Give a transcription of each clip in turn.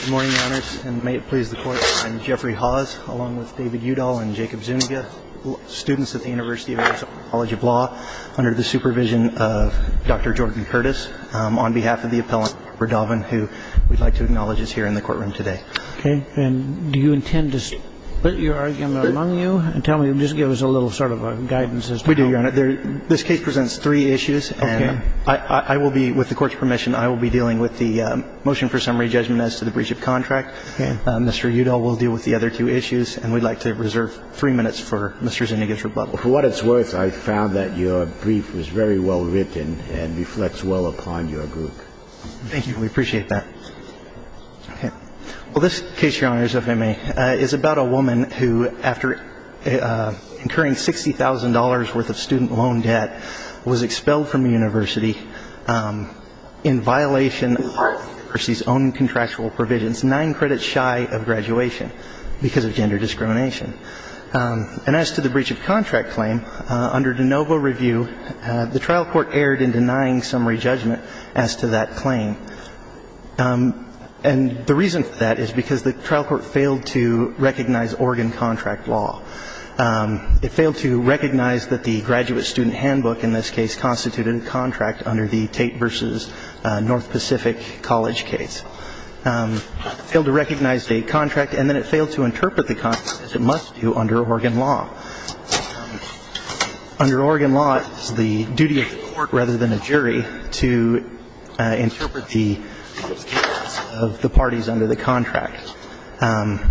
Good morning, Your Honors, and may it please the Court, I'm Jeffrey Hawes, along with David Udall and Jacob Zuniga, students at the University of Arizona College of Law, under the supervision of Dr. Jordan Curtis, on behalf of the appellant, Verdauven, who we'd like to acknowledge is here in the courtroom today. Okay, and do you intend to split your argument among you, and tell me, just give us a little sort of a guidance as to how- Mr. Udall will deal with the other two issues, and we'd like to reserve three minutes for Mr. Zuniga's rebuttal. For what it's worth, I found that your brief was very well written, and reflects well upon your group. Thank you, we appreciate that. Well, this case, Your Honors, if I may, is about a woman who, after incurring $60,000 worth of student loan debt, was expelled from the university in violation of the university's own contractual provisions, nine credits shy of graduation, because of gender discrimination. And as to the breach of contract claim, under de novo review, the trial court erred in denying summary judgment as to that claim. And the reason for that is because the trial court failed to recognize Oregon contract law. It failed to recognize that the graduate student handbook in this case constituted a contract under the Tate versus North Pacific College case. It failed to recognize the Tate contract, and then it failed to interpret the contract, as it must do under Oregon law. Under Oregon law, it is the duty of the court, rather than a jury, to interpret the parties under the contract. And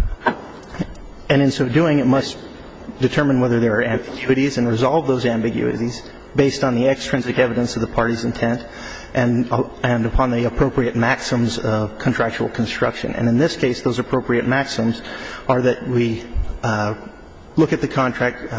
in so doing, it must determine whether there are ambiguities and resolve those ambiguities based on the extrinsic evidence of the party's intent and upon the appropriate maxims of contractual construction. And in this case, those appropriate maxims are that we look at the contract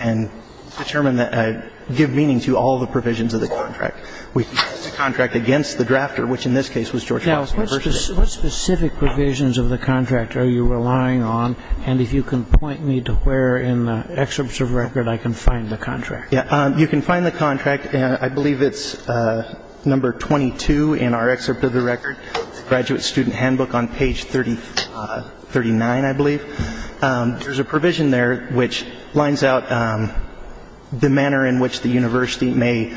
and determine that it gives meaning to all the provisions of the contract. We test the contract against the drafter, which in this case was George Washington University. Now, what specific provisions of the contract are you relying on? And if you can point me to where in the excerpts of record I can find the contract. You can find the contract, and I believe it's number 22 in our excerpt of the record, graduate student handbook on page 39, I believe. There's a provision there which lines out the manner in which the university may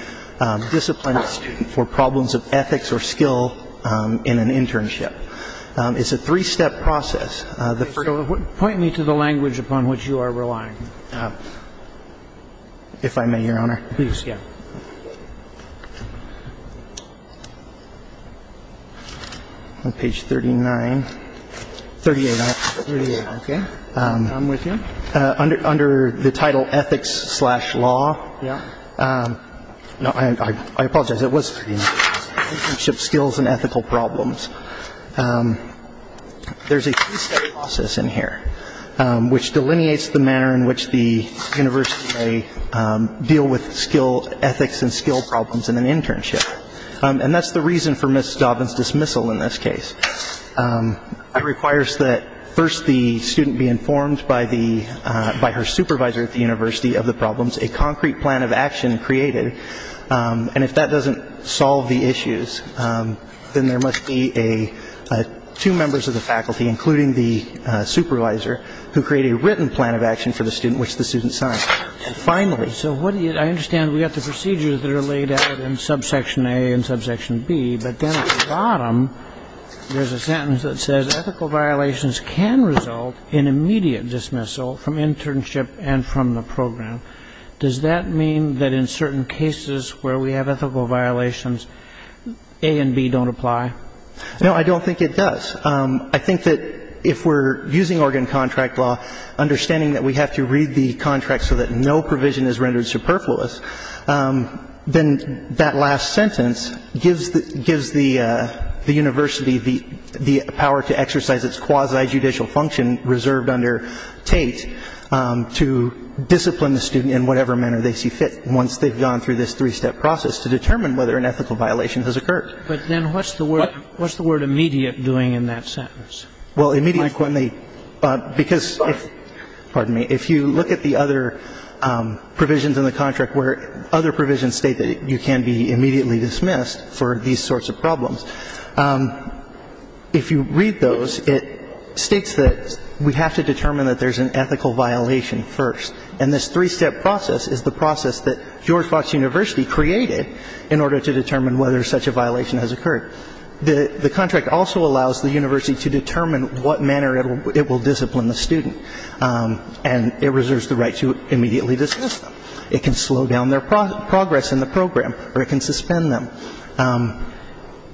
discipline a student for problems of ethics or skill in an internship. It's a three-step process. Point me to the language upon which you are relying. If I may, Your Honor. Please, yeah. On page 39. 38, I believe. 38, okay. I'm with you. Under the title ethics slash law. Yeah. No, I apologize. It was 39. Internship skills and ethical problems. There's a three-step process in here which delineates the manner in which the university may deal with skill ethics and skill problems in an internship. And that's the reason for Ms. Dobbin's dismissal in this case. It requires that first the student be informed by her supervisor at the university of the problems, a concrete plan of action created. And if that doesn't solve the issues, then there must be two members of the faculty, including the supervisor, who create a written plan of action for the student which the student signs. Finally. So I understand we have the procedures that are laid out in subsection A and subsection B, but then at the bottom there's a sentence that says ethical violations can result in immediate dismissal from internship and from the program. Does that mean that in certain cases where we have ethical violations, A and B don't apply? No, I don't think it does. I think that if we're using organ contract law, understanding that we have to read the contract so that no provision is rendered superfluous, then that last sentence gives the university the power to exercise its quasi-judicial function to discipline the student in whatever manner they see fit once they've gone through this three-step process to determine whether an ethical violation has occurred. But then what's the word immediate doing in that sentence? Well, immediately, because if you look at the other provisions in the contract where other provisions state that you can be immediately dismissed for these sorts of problems, if you read those, it states that we have to determine that there's an ethical violation first, and this three-step process is the process that George Fox University created in order to determine whether such a violation has occurred. The contract also allows the university to determine what manner it will discipline the student, and it reserves the right to immediately dismiss them. It can slow down their progress in the program, or it can suspend them.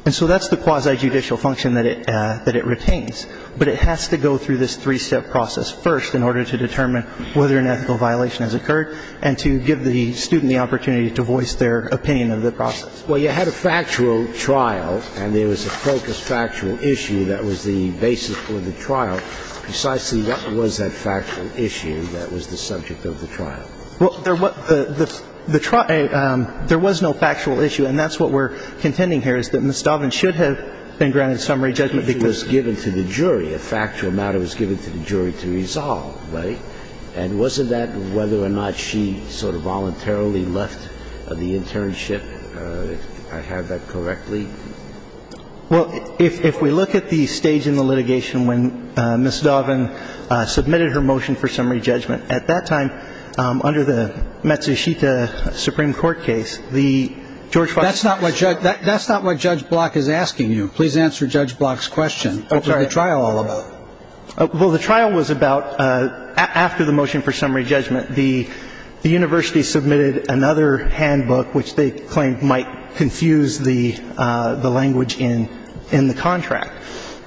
And so that's the quasi-judicial function that it retains. But it has to go through this three-step process first in order to determine whether an ethical violation has occurred and to give the student the opportunity to voice their opinion of the process. Well, you had a factual trial, and there was a focused factual issue that was the basis for the trial. Precisely what was that factual issue that was the subject of the trial? Well, there was no factual issue, and that's what we're contending here is that Ms. Dauven should have been granted summary judgment because She was given to the jury. A factual matter was given to the jury to resolve, right? And wasn't that whether or not she sort of voluntarily left the internship, if I have that correctly? Well, if we look at the stage in the litigation when Ms. Dauven submitted her motion for summary judgment, at that time, under the Matsushita Supreme Court case, the George Fox case. That's not what Judge Block is asking you. Please answer Judge Block's question. What was the trial all about? Well, the trial was about, after the motion for summary judgment, the university submitted another handbook, which they claimed might confuse the language in the contract.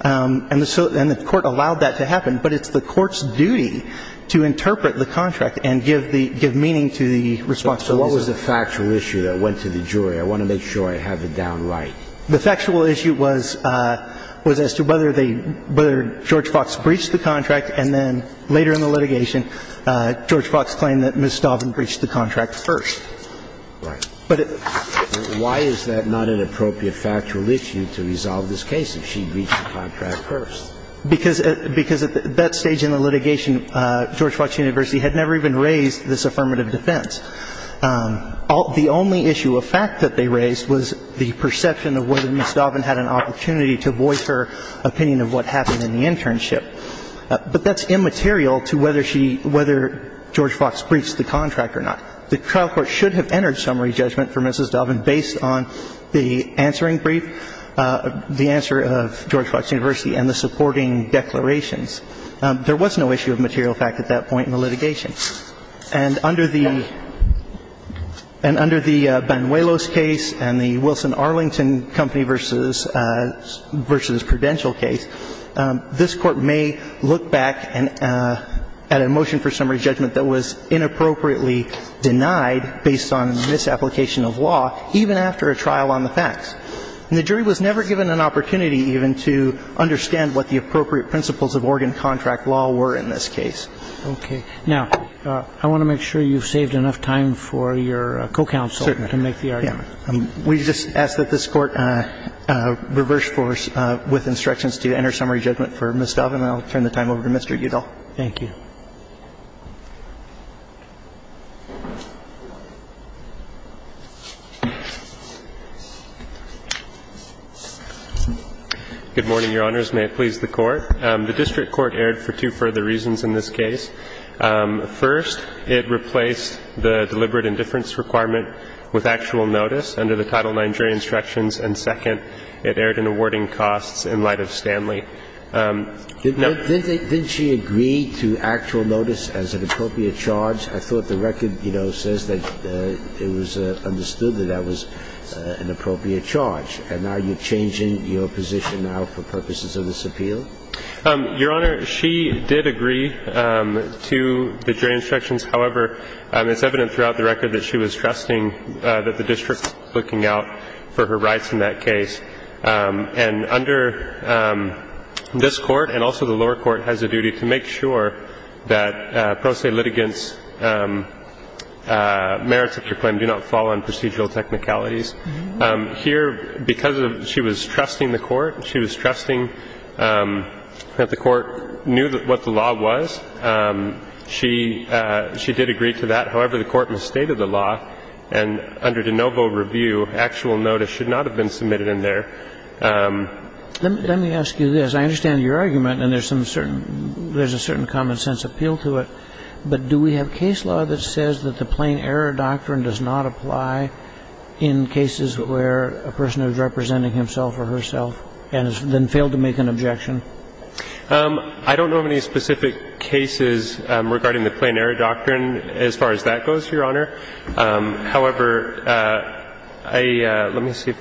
And the court allowed that to happen, but it's the court's duty to interpret the contract and give meaning to the response. So what was the factual issue that went to the jury? I want to make sure I have it down right. The factual issue was as to whether George Fox breached the contract, and then later in the litigation, George Fox claimed that Ms. Dauven breached the contract first. Right. Why is that not an appropriate factual issue to resolve this case if she breached the contract first? Because at that stage in the litigation, George Fox University had never even raised this affirmative defense. The only issue of fact that they raised was the perception of whether Ms. Dauven had an opportunity to voice her opinion of what happened in the internship. But that's immaterial to whether she – whether George Fox breached the contract or not. The trial court should have entered summary judgment for Ms. Dauven based on the answering brief, the answer of George Fox University, and the supporting declarations. There was no issue of material fact at that point in the litigation. And under the Banuelos case and the Wilson Arlington Company v. Prudential case, this Court may look back at a motion for summary judgment that was inappropriately denied based on misapplication of law, even after a trial on the facts. And the jury was never given an opportunity even to understand what the appropriate principles of Oregon contract law were in this case. Okay. Now, I want to make sure you've saved enough time for your co-counsel to make the argument. Certainly. We just ask that this Court reverse force with instructions to enter summary judgment for Ms. Dauven. And I'll turn the time over to Mr. Udall. Thank you. Good morning, Your Honors. May it please the Court. The district court erred for two further reasons in this case. First, it replaced the deliberate indifference requirement with actual notice under the Title IX jury instructions. And second, it erred in awarding costs in light of Stanley. Didn't she agree to actual notice as an appropriate charge? I thought the record, you know, says that it was understood that that was an appropriate charge. And are you changing your position now for purposes of this appeal? Your Honor, she did agree to the jury instructions. However, it's evident throughout the record that she was trusting that the district was looking out for her rights in that case. And under this Court, and also the lower court, has a duty to make sure that pro se litigants' merits of your claim do not fall on procedural technicalities. Here, because she was trusting the court, she was trusting that the court knew what the law was. She did agree to that. However, the court misstated the law. And under de novo review, actual notice should not have been submitted in there. Let me ask you this. I understand your argument, and there's a certain common-sense appeal to it. But do we have case law that says that the plain error doctrine does not apply in cases where a person is representing himself or herself and has then failed to make an objection? I don't know of any specific cases regarding the plain error doctrine as far as that goes, Your Honor. However, let me see.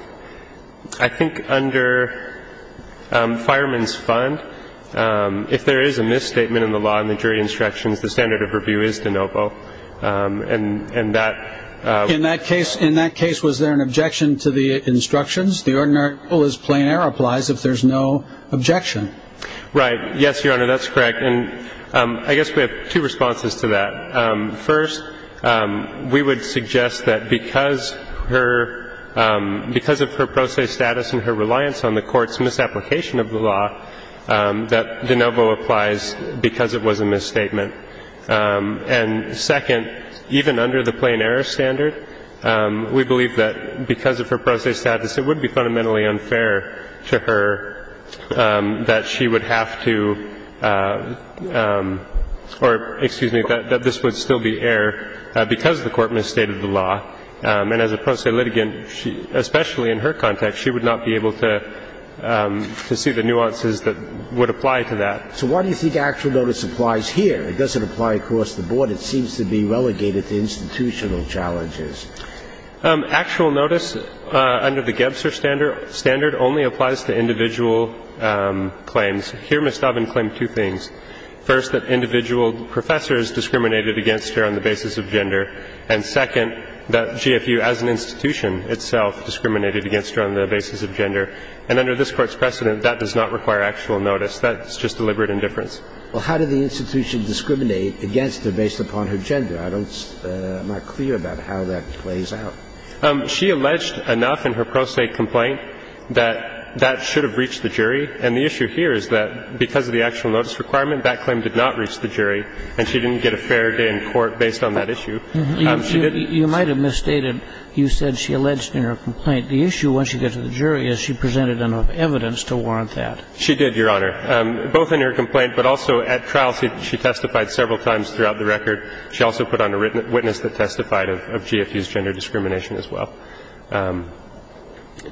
I think under Fireman's Fund, if there is a misstatement in the law in the jury instructions, the standard of review is de novo, and that ---- In that case, was there an objection to the instructions? The ordinary rule is plain error applies if there's no objection. Right. Yes, Your Honor, that's correct. And I guess we have two responses to that. First, we would suggest that because of her pro se status and her reliance on the court's application of the law, that de novo applies because it was a misstatement. And second, even under the plain error standard, we believe that because of her pro se status, it would be fundamentally unfair to her that she would have to ---- or, excuse me, that this would still be error because the court misstated the law. And as a pro se litigant, especially in her context, she would not be able to see the nuances that would apply to that. So why do you think actual notice applies here? It doesn't apply across the board. It seems to be relegated to institutional challenges. Actual notice under the Gebser standard only applies to individual claims. Here, Ms. Doven claimed two things. First, that individual professors discriminated against her on the basis of gender. And second, that GFU as an institution itself discriminated against her on the basis of gender. And under this Court's precedent, that does not require actual notice. That's just deliberate indifference. Well, how did the institution discriminate against her based upon her gender? I don't ---- I'm not clear about how that plays out. She alleged enough in her pro se complaint that that should have reached the jury. And the issue here is that because of the actual notice requirement, that claim did not reach the jury, and she didn't get a fair day in court based on that issue. You might have misstated. You said she alleged in her complaint. The issue, once you get to the jury, is she presented enough evidence to warrant that. She did, Your Honor, both in her complaint, but also at trial. She testified several times throughout the record. She also put on a witness that testified of GFU's gender discrimination as well.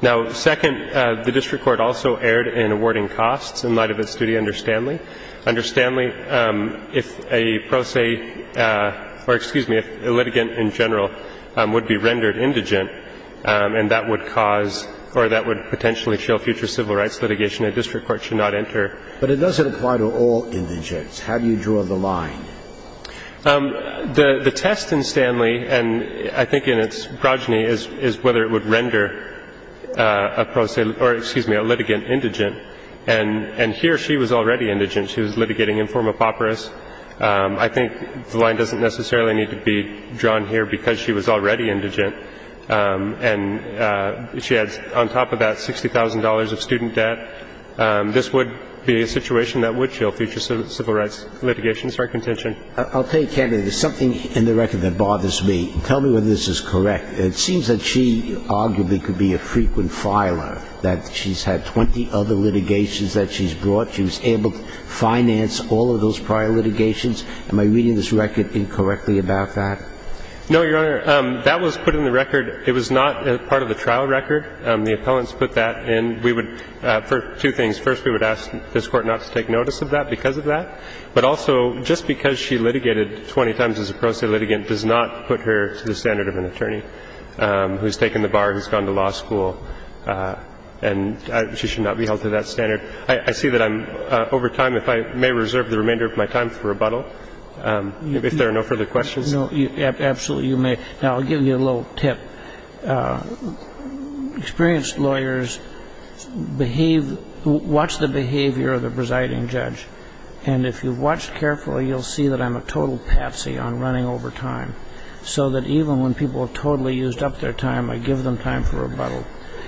Now, second, the district court also erred in awarding costs in light of its duty. The district court did not issue a pro se. And it was a matter of whether or not a pro se would render Stanley. Under Stanley, if a pro se or, excuse me, if a litigant in general would be rendered indigent, and that would cause or that would potentially show future civil rights litigation, a district court should not enter. But it doesn't apply to all indigents. How do you draw the line? The test in Stanley, and I think in its progeny, is whether it would render a pro se or, excuse me, a litigant indigent. And here she was already indigent. She was litigating in form of papyrus. I think the line doesn't necessarily need to be drawn here because she was already indigent. And she had on top of that $60,000 of student debt. This would be a situation that would show future civil rights litigation. Sorry, contention. I'll tell you, Kennedy, there's something in the record that bothers me. Tell me whether this is correct. It seems that she arguably could be a frequent filer, that she's had 20 other litigations that she's brought. She was able to finance all of those prior litigations. Am I reading this record incorrectly about that? No, Your Honor. That was put in the record. It was not part of the trial record. The appellants put that in. We would, for two things. First, we would ask this Court not to take notice of that because of that. But also, just because she litigated 20 times as a pro se litigant does not put her to the standard of an attorney who's taken the bar, who's gone to law school, and she should not be held to that standard. I see that I'm over time. If I may reserve the remainder of my time for rebuttal, if there are no further questions. No, absolutely you may. Now, I'll give you a little tip. Experienced lawyers watch the behavior of the presiding judge. And if you've watched carefully, you'll see that I'm a total patsy on running over time, so that even when people have totally used up their time, I give them time for rebuttal.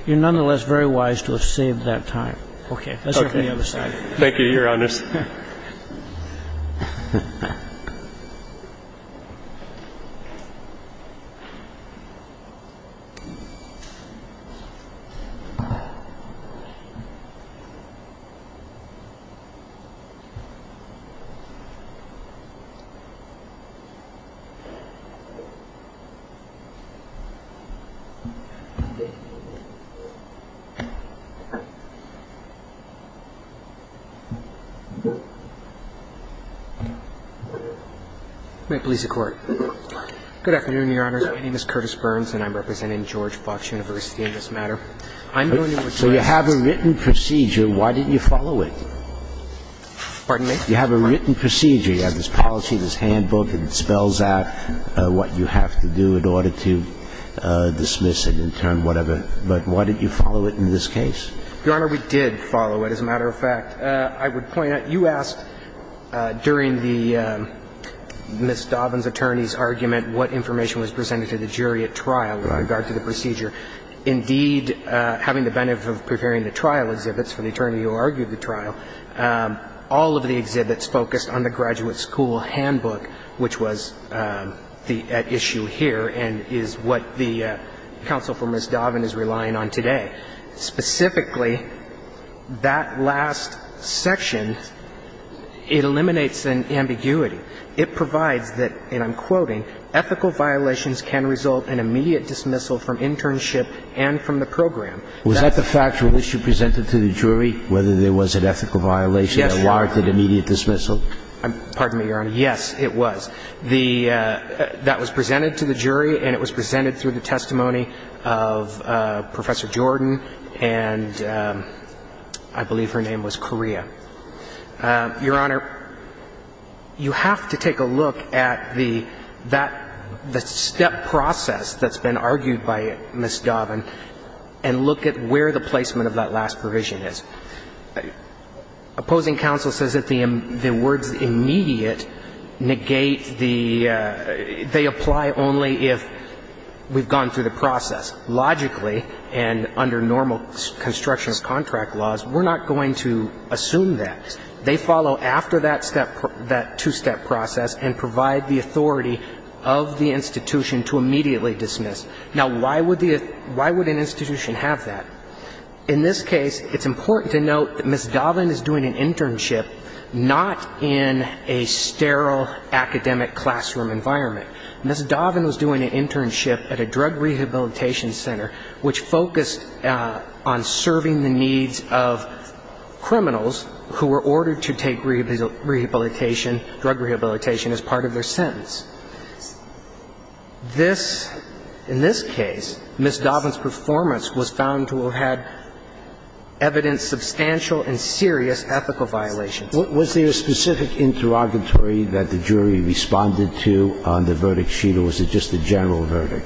You're nonetheless very wise to have saved that time. Okay. Let's hear from the other side. Thank you, Your Honor. Thank you, Your Honor. May it please the Court. Good afternoon, Your Honors. My name is Curtis Burns, and I'm representing George Fox University in this matter. I'm going to request that the Court respond. So you have a written procedure. Why didn't you follow it? Pardon me? You have a written procedure. You have this policy, this handbook, and it spells out what you have to do in order to dismiss it and turn whatever. But why didn't you follow it in this case? Your Honor, we did follow it. As a matter of fact, I would point out, you asked during the Ms. Dovin's attorney's argument what information was presented to the jury at trial with regard to the procedure. Indeed, having the benefit of preparing the trial exhibits for the attorney who argued the trial, all of the exhibits focused on the graduate school handbook, which was at issue here and is what the counsel for Ms. Dovin is relying on today. Specifically, that last section, it eliminates an ambiguity. It provides that, and I'm quoting, ethical violations can result in immediate dismissal from internship and from the program. Was that the factual issue presented to the jury, whether there was an ethical violation? Yes, Your Honor. A warranted immediate dismissal? Pardon me, Your Honor. Yes, it was. That was presented to the jury and it was presented through the testimony of Professor Jordan and I believe her name was Correa. Your Honor, you have to take a look at the step process that's been argued by Ms. Dovin and look at where the placement of that last provision is. Opposing counsel says that the words immediate negate the – they apply only if we've gone through the process. Logically, and under normal construction contract laws, we're not going to assume that. They follow after that step – that two-step process and provide the authority of the institution to immediately dismiss. Now, why would the – why would an institution have that? In this case, it's important to note that Ms. Dovin is doing an internship not in a sterile academic classroom environment. Ms. Dovin was doing an internship at a drug rehabilitation center which focused on serving the needs of criminals who were ordered to take rehabilitation – drug rehabilitation as part of their sentence. This – in this case, Ms. Dovin's performance was found to have had evidence substantial and serious ethical violations. Was there a specific interrogatory that the jury responded to on the verdict sheet or was it just a general verdict?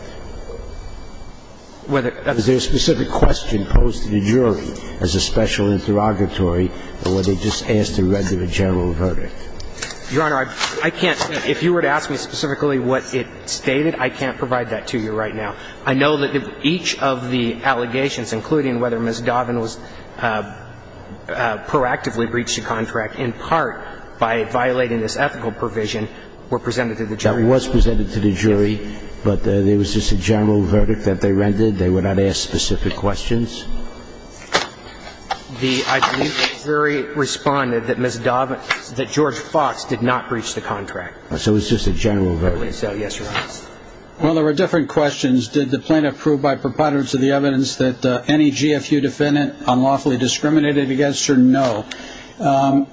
Whether that's the case. Was there a specific question posed to the jury as a special interrogatory or were they just asked to read to the general verdict? Your Honor, I can't – if you were to ask me specifically what it stated, I can't provide that to you right now. I know that each of the allegations, including whether Ms. Dovin was proactively breached the contract in part by violating this ethical provision, were presented to the jury. That was presented to the jury, but there was just a general verdict that they rendered. They were not asked specific questions. The – I believe the jury responded that Ms. Dovin – that George Fox did not breach the contract. So it was just a general verdict. Yes, Your Honor. Well, there were different questions. Did the plaintiff prove by preponderance of the evidence that any GFU defendant unlawfully discriminated against her? No.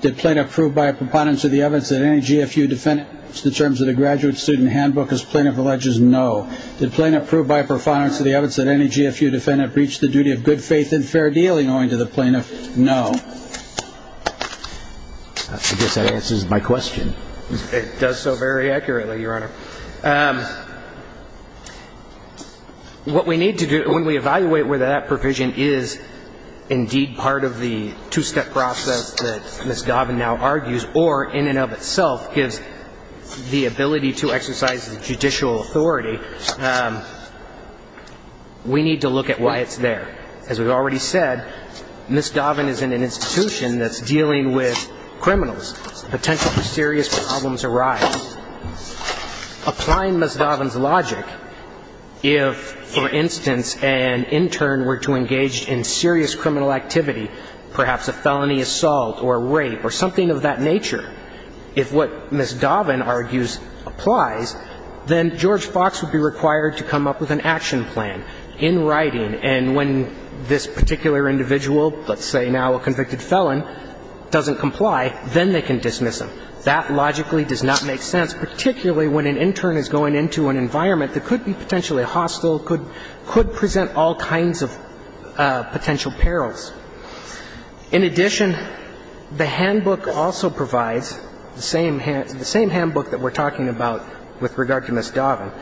Did plaintiff prove by preponderance of the evidence that any GFU defendant, in terms of the graduate student handbook, as plaintiff alleges? No. Did plaintiff prove by preponderance of the evidence that any GFU defendant breached the duty of good faith and fair dealing owing to the plaintiff? No. I guess that answers my question. It does so very accurately, Your Honor. What we need to do when we evaluate whether that provision is indeed part of the two-step process that Ms. Dovin now argues or, in and of itself, gives the ability to exercise judicial authority, we need to look at why it's there. As we've already said, Ms. Dovin is in an institution that's dealing with criminals, potentially serious problems arise. Applying Ms. Dovin's logic, if, for instance, an intern were to engage in serious criminal activity, perhaps a felony assault or rape or something of that nature, if what Ms. Dovin argues applies, then George Fox would be required to come up with an action plan in writing. And when this particular individual, let's say now a convicted felon, doesn't comply, then they can dismiss him. That logically does not make sense, particularly when an intern is going into an environment that could be potentially hostile, could present all kinds of potential perils. In addition, the handbook also provides, the same handbook that we're talking about with regard to Ms. Dovin,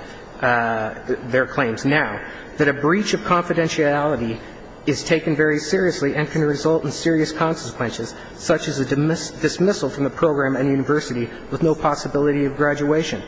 their claims now, that a breach of confidentiality is taken very seriously and can result in serious consequences, such as a dismissal from the program and university with no possibility of graduation.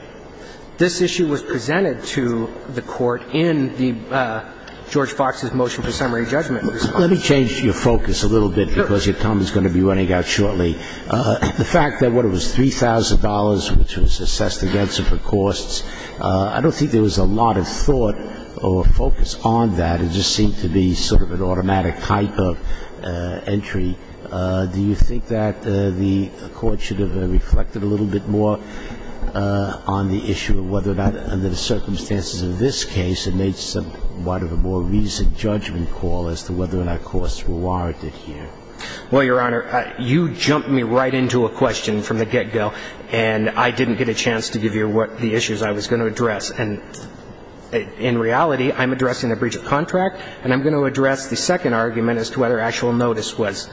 This issue was presented to the Court in the George Fox's motion for summary judgment last week. Let me change your focus a little bit, because your time is going to be running out shortly. The fact that what it was $3,000, which was assessed against her for costs, I don't think there was a lot of thought or focus on that. It just seemed to be sort of an automatic type of entry. Do you think that the Court should have reflected a little bit more on the issue of whether or not under the circumstances of this case it made somewhat of a more conducive judgment call as to whether or not costs were warranted here? Well, Your Honor, you jumped me right into a question from the get-go, and I didn't get a chance to give you what the issues I was going to address. And in reality, I'm addressing a breach of contract, and I'm going to address the second argument as to whether actual notice was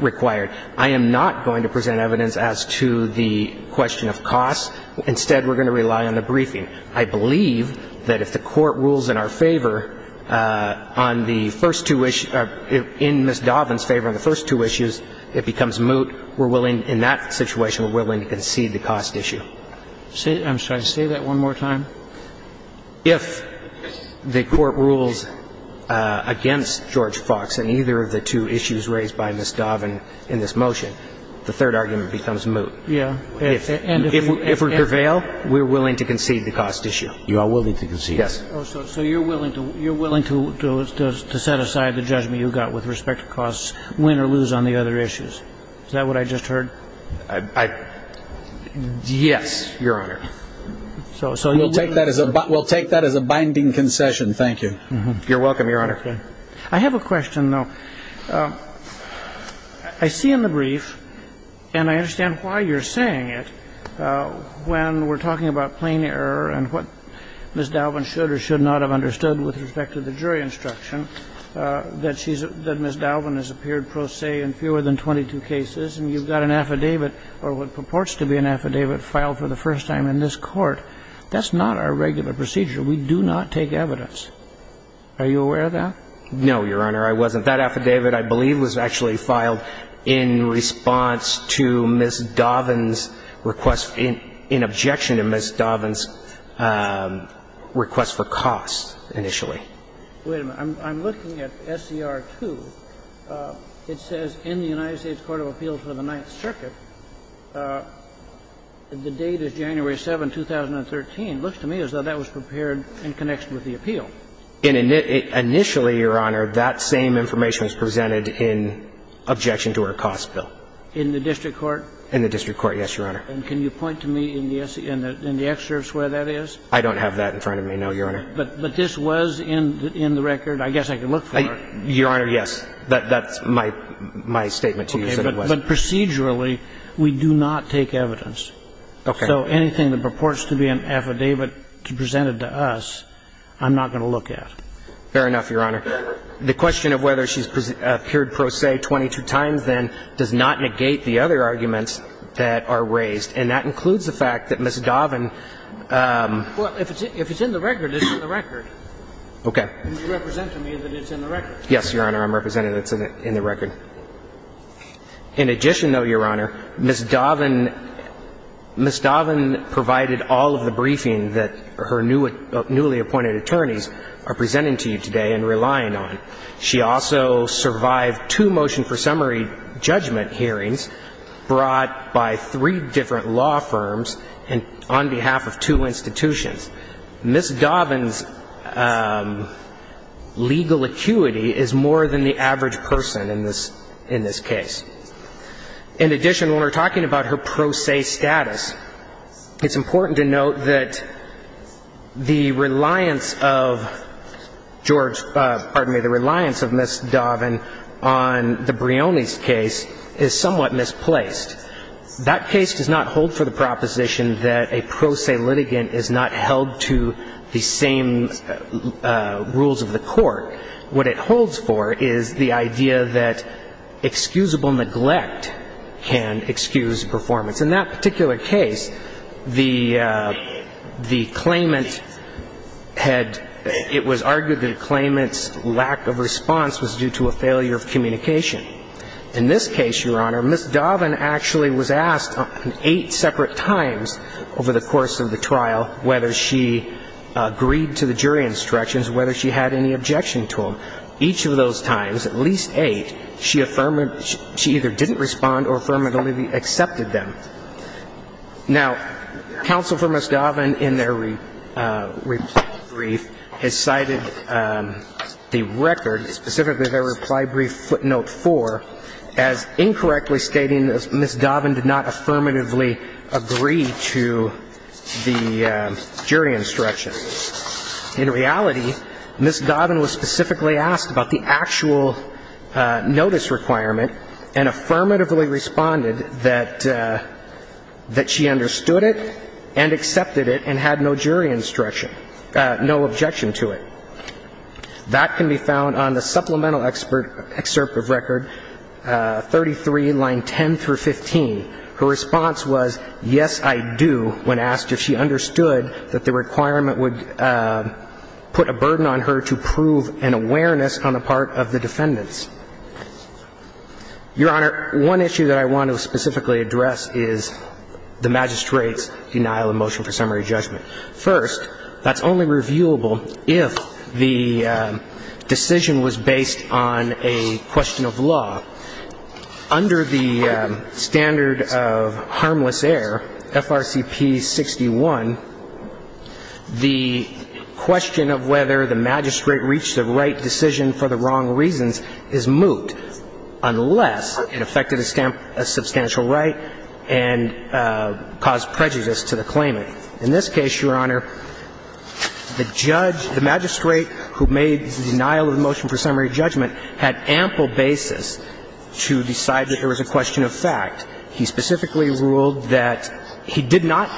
required. I am not going to present evidence as to the question of costs. Instead, we're going to rely on the briefing. I believe that if the Court rules in our favor on the first two issues, in Ms. Dovin's favor on the first two issues, it becomes moot. We're willing, in that situation, we're willing to concede the cost issue. I'm sorry. Say that one more time. If the Court rules against George Fox in either of the two issues raised by Ms. Dovin in this motion, the third argument becomes moot. Yeah. If we prevail, we're willing to concede the cost issue. You are willing to concede. Yes. So you're willing to set aside the judgment you got with respect to costs, win or lose on the other issues. Is that what I just heard? Yes, Your Honor. We'll take that as a binding concession. Thank you. You're welcome, Your Honor. I have a question, though. I see in the brief, and I understand why you're saying it, when we're talking about plain error and what Ms. Dovin should or should not have understood with respect to the jury instruction, that Ms. Dovin has appeared pro se in fewer than 22 cases, and you've got an affidavit, or what purports to be an affidavit, filed for the first time in this Court. That's not our regular procedure. We do not take evidence. Are you aware of that? No, Your Honor. I wasn't. That affidavit, I believe, was actually filed in response to Ms. Dovin's request in objection to Ms. Dovin's request for costs initially. Wait a minute. I'm looking at SCR2. It says in the United States Court of Appeals for the Ninth Circuit, the date is January 7, 2013. It looks to me as though that was prepared in connection with the appeal. Initially, Your Honor, that same information was presented in objection to our costs bill. In the district court? In the district court, yes, Your Honor. And can you point to me in the excerpt where that is? I don't have that in front of me, no, Your Honor. But this was in the record. I guess I can look for it. Your Honor, yes. That's my statement to you. But procedurally, we do not take evidence. So anything that purports to be an affidavit presented to us, I'm not going to look at. Fair enough, Your Honor. The question of whether she's appeared pro se 22 times, then, does not negate the other arguments that are raised. And that includes the fact that Ms. Dovin... Well, if it's in the record, it's in the record. Okay. And you're representing me that it's in the record. Yes, Your Honor. I'm representing that it's in the record. In addition, though, Your Honor, Ms. Dovin provided all of the briefing that her newly appointed attorneys are presenting to you today and relying on. She also survived two motion for summary judgment hearings brought by three different law firms on behalf of two institutions. Ms. Dovin's legal acuity is more than the average person in this case. In addition, when we're talking about her pro se status, it's important to note that the reliance of George, pardon me, the reliance of Ms. Dovin on the Brioni's case is somewhat misplaced. That case does not hold for the proposition that a pro se litigant is not held to the same rules of the court. What it holds for is the idea that excusable neglect can excuse performance. In that particular case, the claimant had, it was argued that a claimant's lack of response was due to a failure of communication. In this case, Your Honor, Ms. Dovin actually was asked eight separate times over the course of the trial whether she agreed to the jury instructions, whether she had any objection to them. Each of those times, at least eight, she either didn't respond or affirmatively accepted them. Now, counsel for Ms. Dovin in their reply brief has cited the record, specifically their reply brief footnote four, as incorrectly stating that Ms. Dovin did not affirmatively agree to the jury instructions. In reality, Ms. Dovin was specifically asked about the actual notice requirement and affirmatively responded that she understood it and accepted it and had no jury instruction, no objection to it. That can be found on the supplemental excerpt of record 33, line 10 through 15. Her response was, yes, I do, when asked if she understood that the requirement would put a burden on her to prove an awareness on the part of the defendants. Your Honor, one issue that I want to specifically address is the magistrate's denial of motion for summary judgment. First, that's only reviewable if the decision was based on a question of law. Under the standard of harmless error, FRCP 61, the defendant's claimant's case was a criminal case, and the question of whether the magistrate reached a right decision for the wrong reasons is moot, unless it affected a substantial right and caused prejudice to the claimant. In this case, Your Honor, the judge, the magistrate who made the denial of the motion for summary judgment, had ample basis to decide that there was a question of fact. He specifically ruled that he did not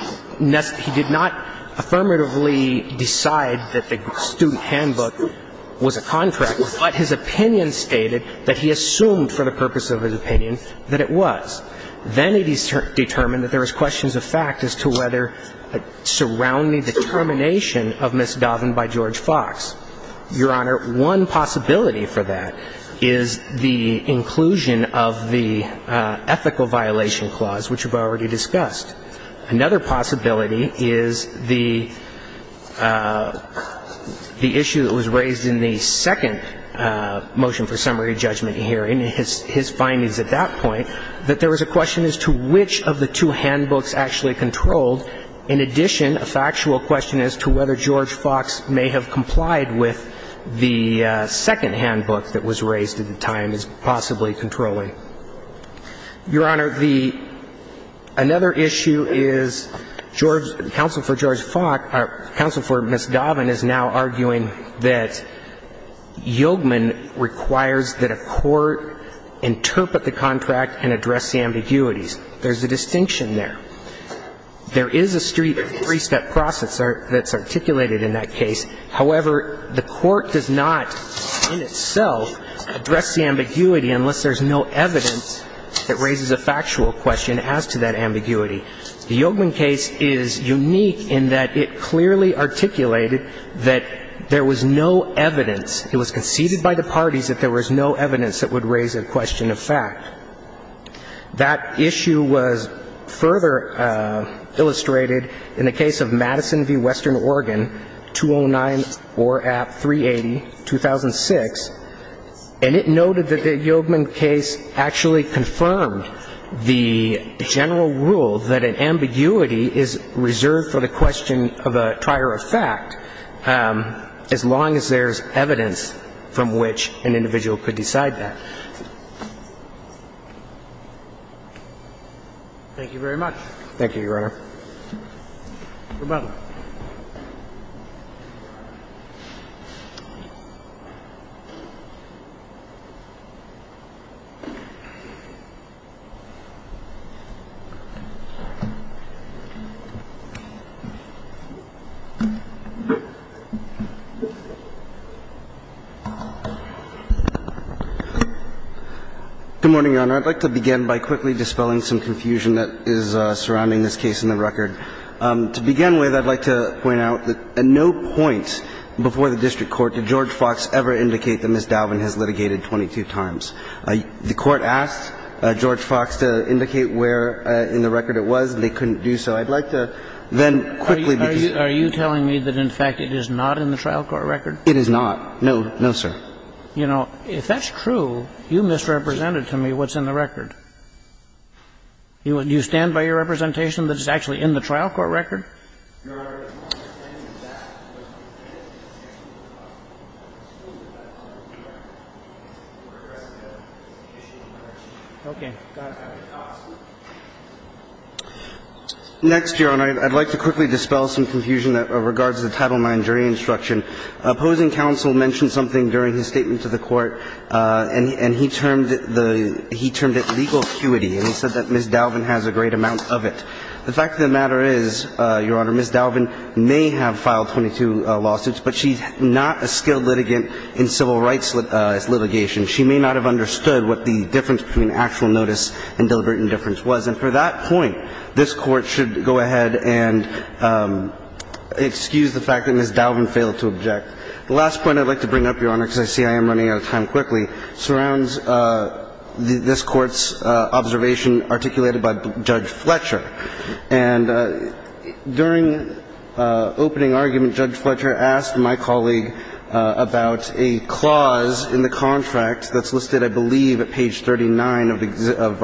affirmatively decide that the student handbook was a contract, but his opinion stated that he assumed for the purpose of his opinion that it was. Then he determined that there was questions of fact as to whether surrounding the termination of Ms. Doven by George Fox. Your Honor, one possibility for that is the inclusion of the ethical violation clause, which we've already discussed. Another possibility is the issue that was raised in the second motion for summary judgment hearing, his findings at that point, that there was a question as to which of the two handbooks actually controlled. In addition, a factual question as to whether George Fox may have complied with the second handbook that was raised at the time is possibly controlling. Your Honor, the – another issue is George – counsel for George Fox – counsel for Ms. Doven is now arguing that Yogemin requires that a court interpret the contract and address the ambiguities. There's a distinction there. There is a street three-step process that's articulated in that case. However, the court does not in itself address the ambiguity unless there's no evidence that raises a factual question as to that ambiguity. The Yogemin case is unique in that it clearly articulated that there was no evidence – it was conceded by the parties that there was no evidence that would raise a question of fact. That issue was further illustrated in the case of Madison v. Western Oregon, 209, or at 380, 2006, and it noted that the Yogemin case actually confirmed the general rule that an ambiguity is reserved for the question of a trier of fact as long as there's evidence from which an individual could decide that. Thank you very much. Thank you, Your Honor. Your Honor. I'd like to begin by quickly dispelling some confusion that is surrounding this case in the record. To begin with, I'd like to point out that at no point before the district court did George Fox ever indicate that Ms. Dalvin has litigated 22 times. The Court asked George Fox to indicate where in the record it was, and they couldn't do so. I'd like to then quickly because of the time. Are you telling me that in fact it is not in the trial court record? It is not. No, no, sir. You know, if that's true, you misrepresented to me what's in the record. Do you stand by your representation that it's actually in the trial court record? Your Honor, I don't understand that. I'm still not clear. Okay. Next, Your Honor, I'd like to quickly dispel some confusion that regards the Title IX jury instruction. Opposing counsel mentioned something during his statement to the Court, and he termed it legal acuity, and he said that Ms. Dalvin has a great amount of it. The fact of the matter is, Your Honor, Ms. Dalvin may have filed 22 lawsuits, but she's not a skilled litigant in civil rights litigation. She may not have understood what the difference between actual notice and deliberate indifference was. And for that point, this Court should go ahead and excuse the fact that Ms. Dalvin failed to object. The last point I'd like to bring up, Your Honor, because I see I am running out of time quickly, surrounds this Court's observation articulated by Judge Fletcher. And during opening argument, Judge Fletcher asked my colleague about a clause in the contract that's listed, I believe, at page 39 of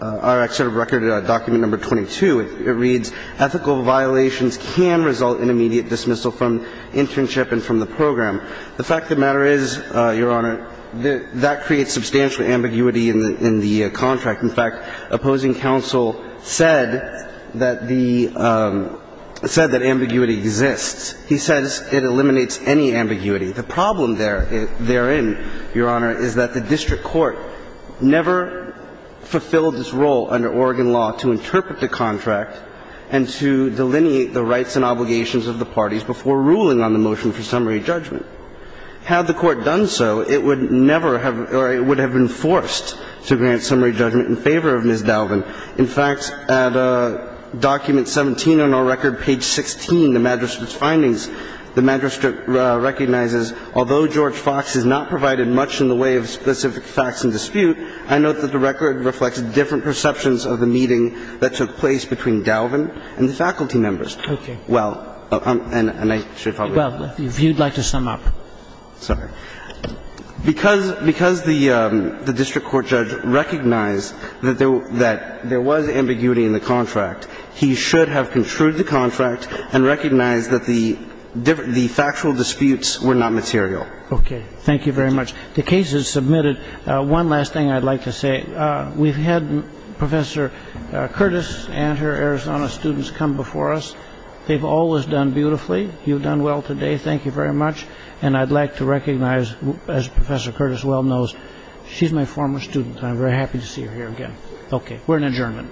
our excerpt of record, document number 22. It reads, ethical violations can result in immediate dismissal from internship and from the program. The fact of the matter is, Your Honor, that creates substantial ambiguity in the contract. In fact, opposing counsel said that the – said that ambiguity exists. He says it eliminates any ambiguity. The problem therein, Your Honor, is that the district court never fulfilled its role under Oregon law to interpret the contract and to delineate the rights and obligations of the parties before ruling on the motion for summary judgment. Had the Court done so, it would never have – or it would have been forced to grant summary judgment in favor of Ms. Dalvin. In fact, at document 17 on our record, page 16, the magistrate's findings, the magistrate recognizes although George Fox has not provided much in the way of specific facts and dispute, I note that the record reflects different perceptions of the meeting that took place between Dalvin and the faculty members. Okay. Well, and I should probably – Well, if you'd like to sum up. Sorry. Because – because the district court judge recognized that there was ambiguity in the contract, he should have construed the contract and recognized that the factual disputes were not material. Okay. Thank you very much. The case is submitted. One last thing I'd like to say. We've had Professor Curtis and her Arizona students come before us. They've all done beautifully. You've done well today. Thank you very much. And I'd like to recognize, as Professor Curtis well knows, she's my former student. I'm very happy to see her here again. Okay. We're in adjournment.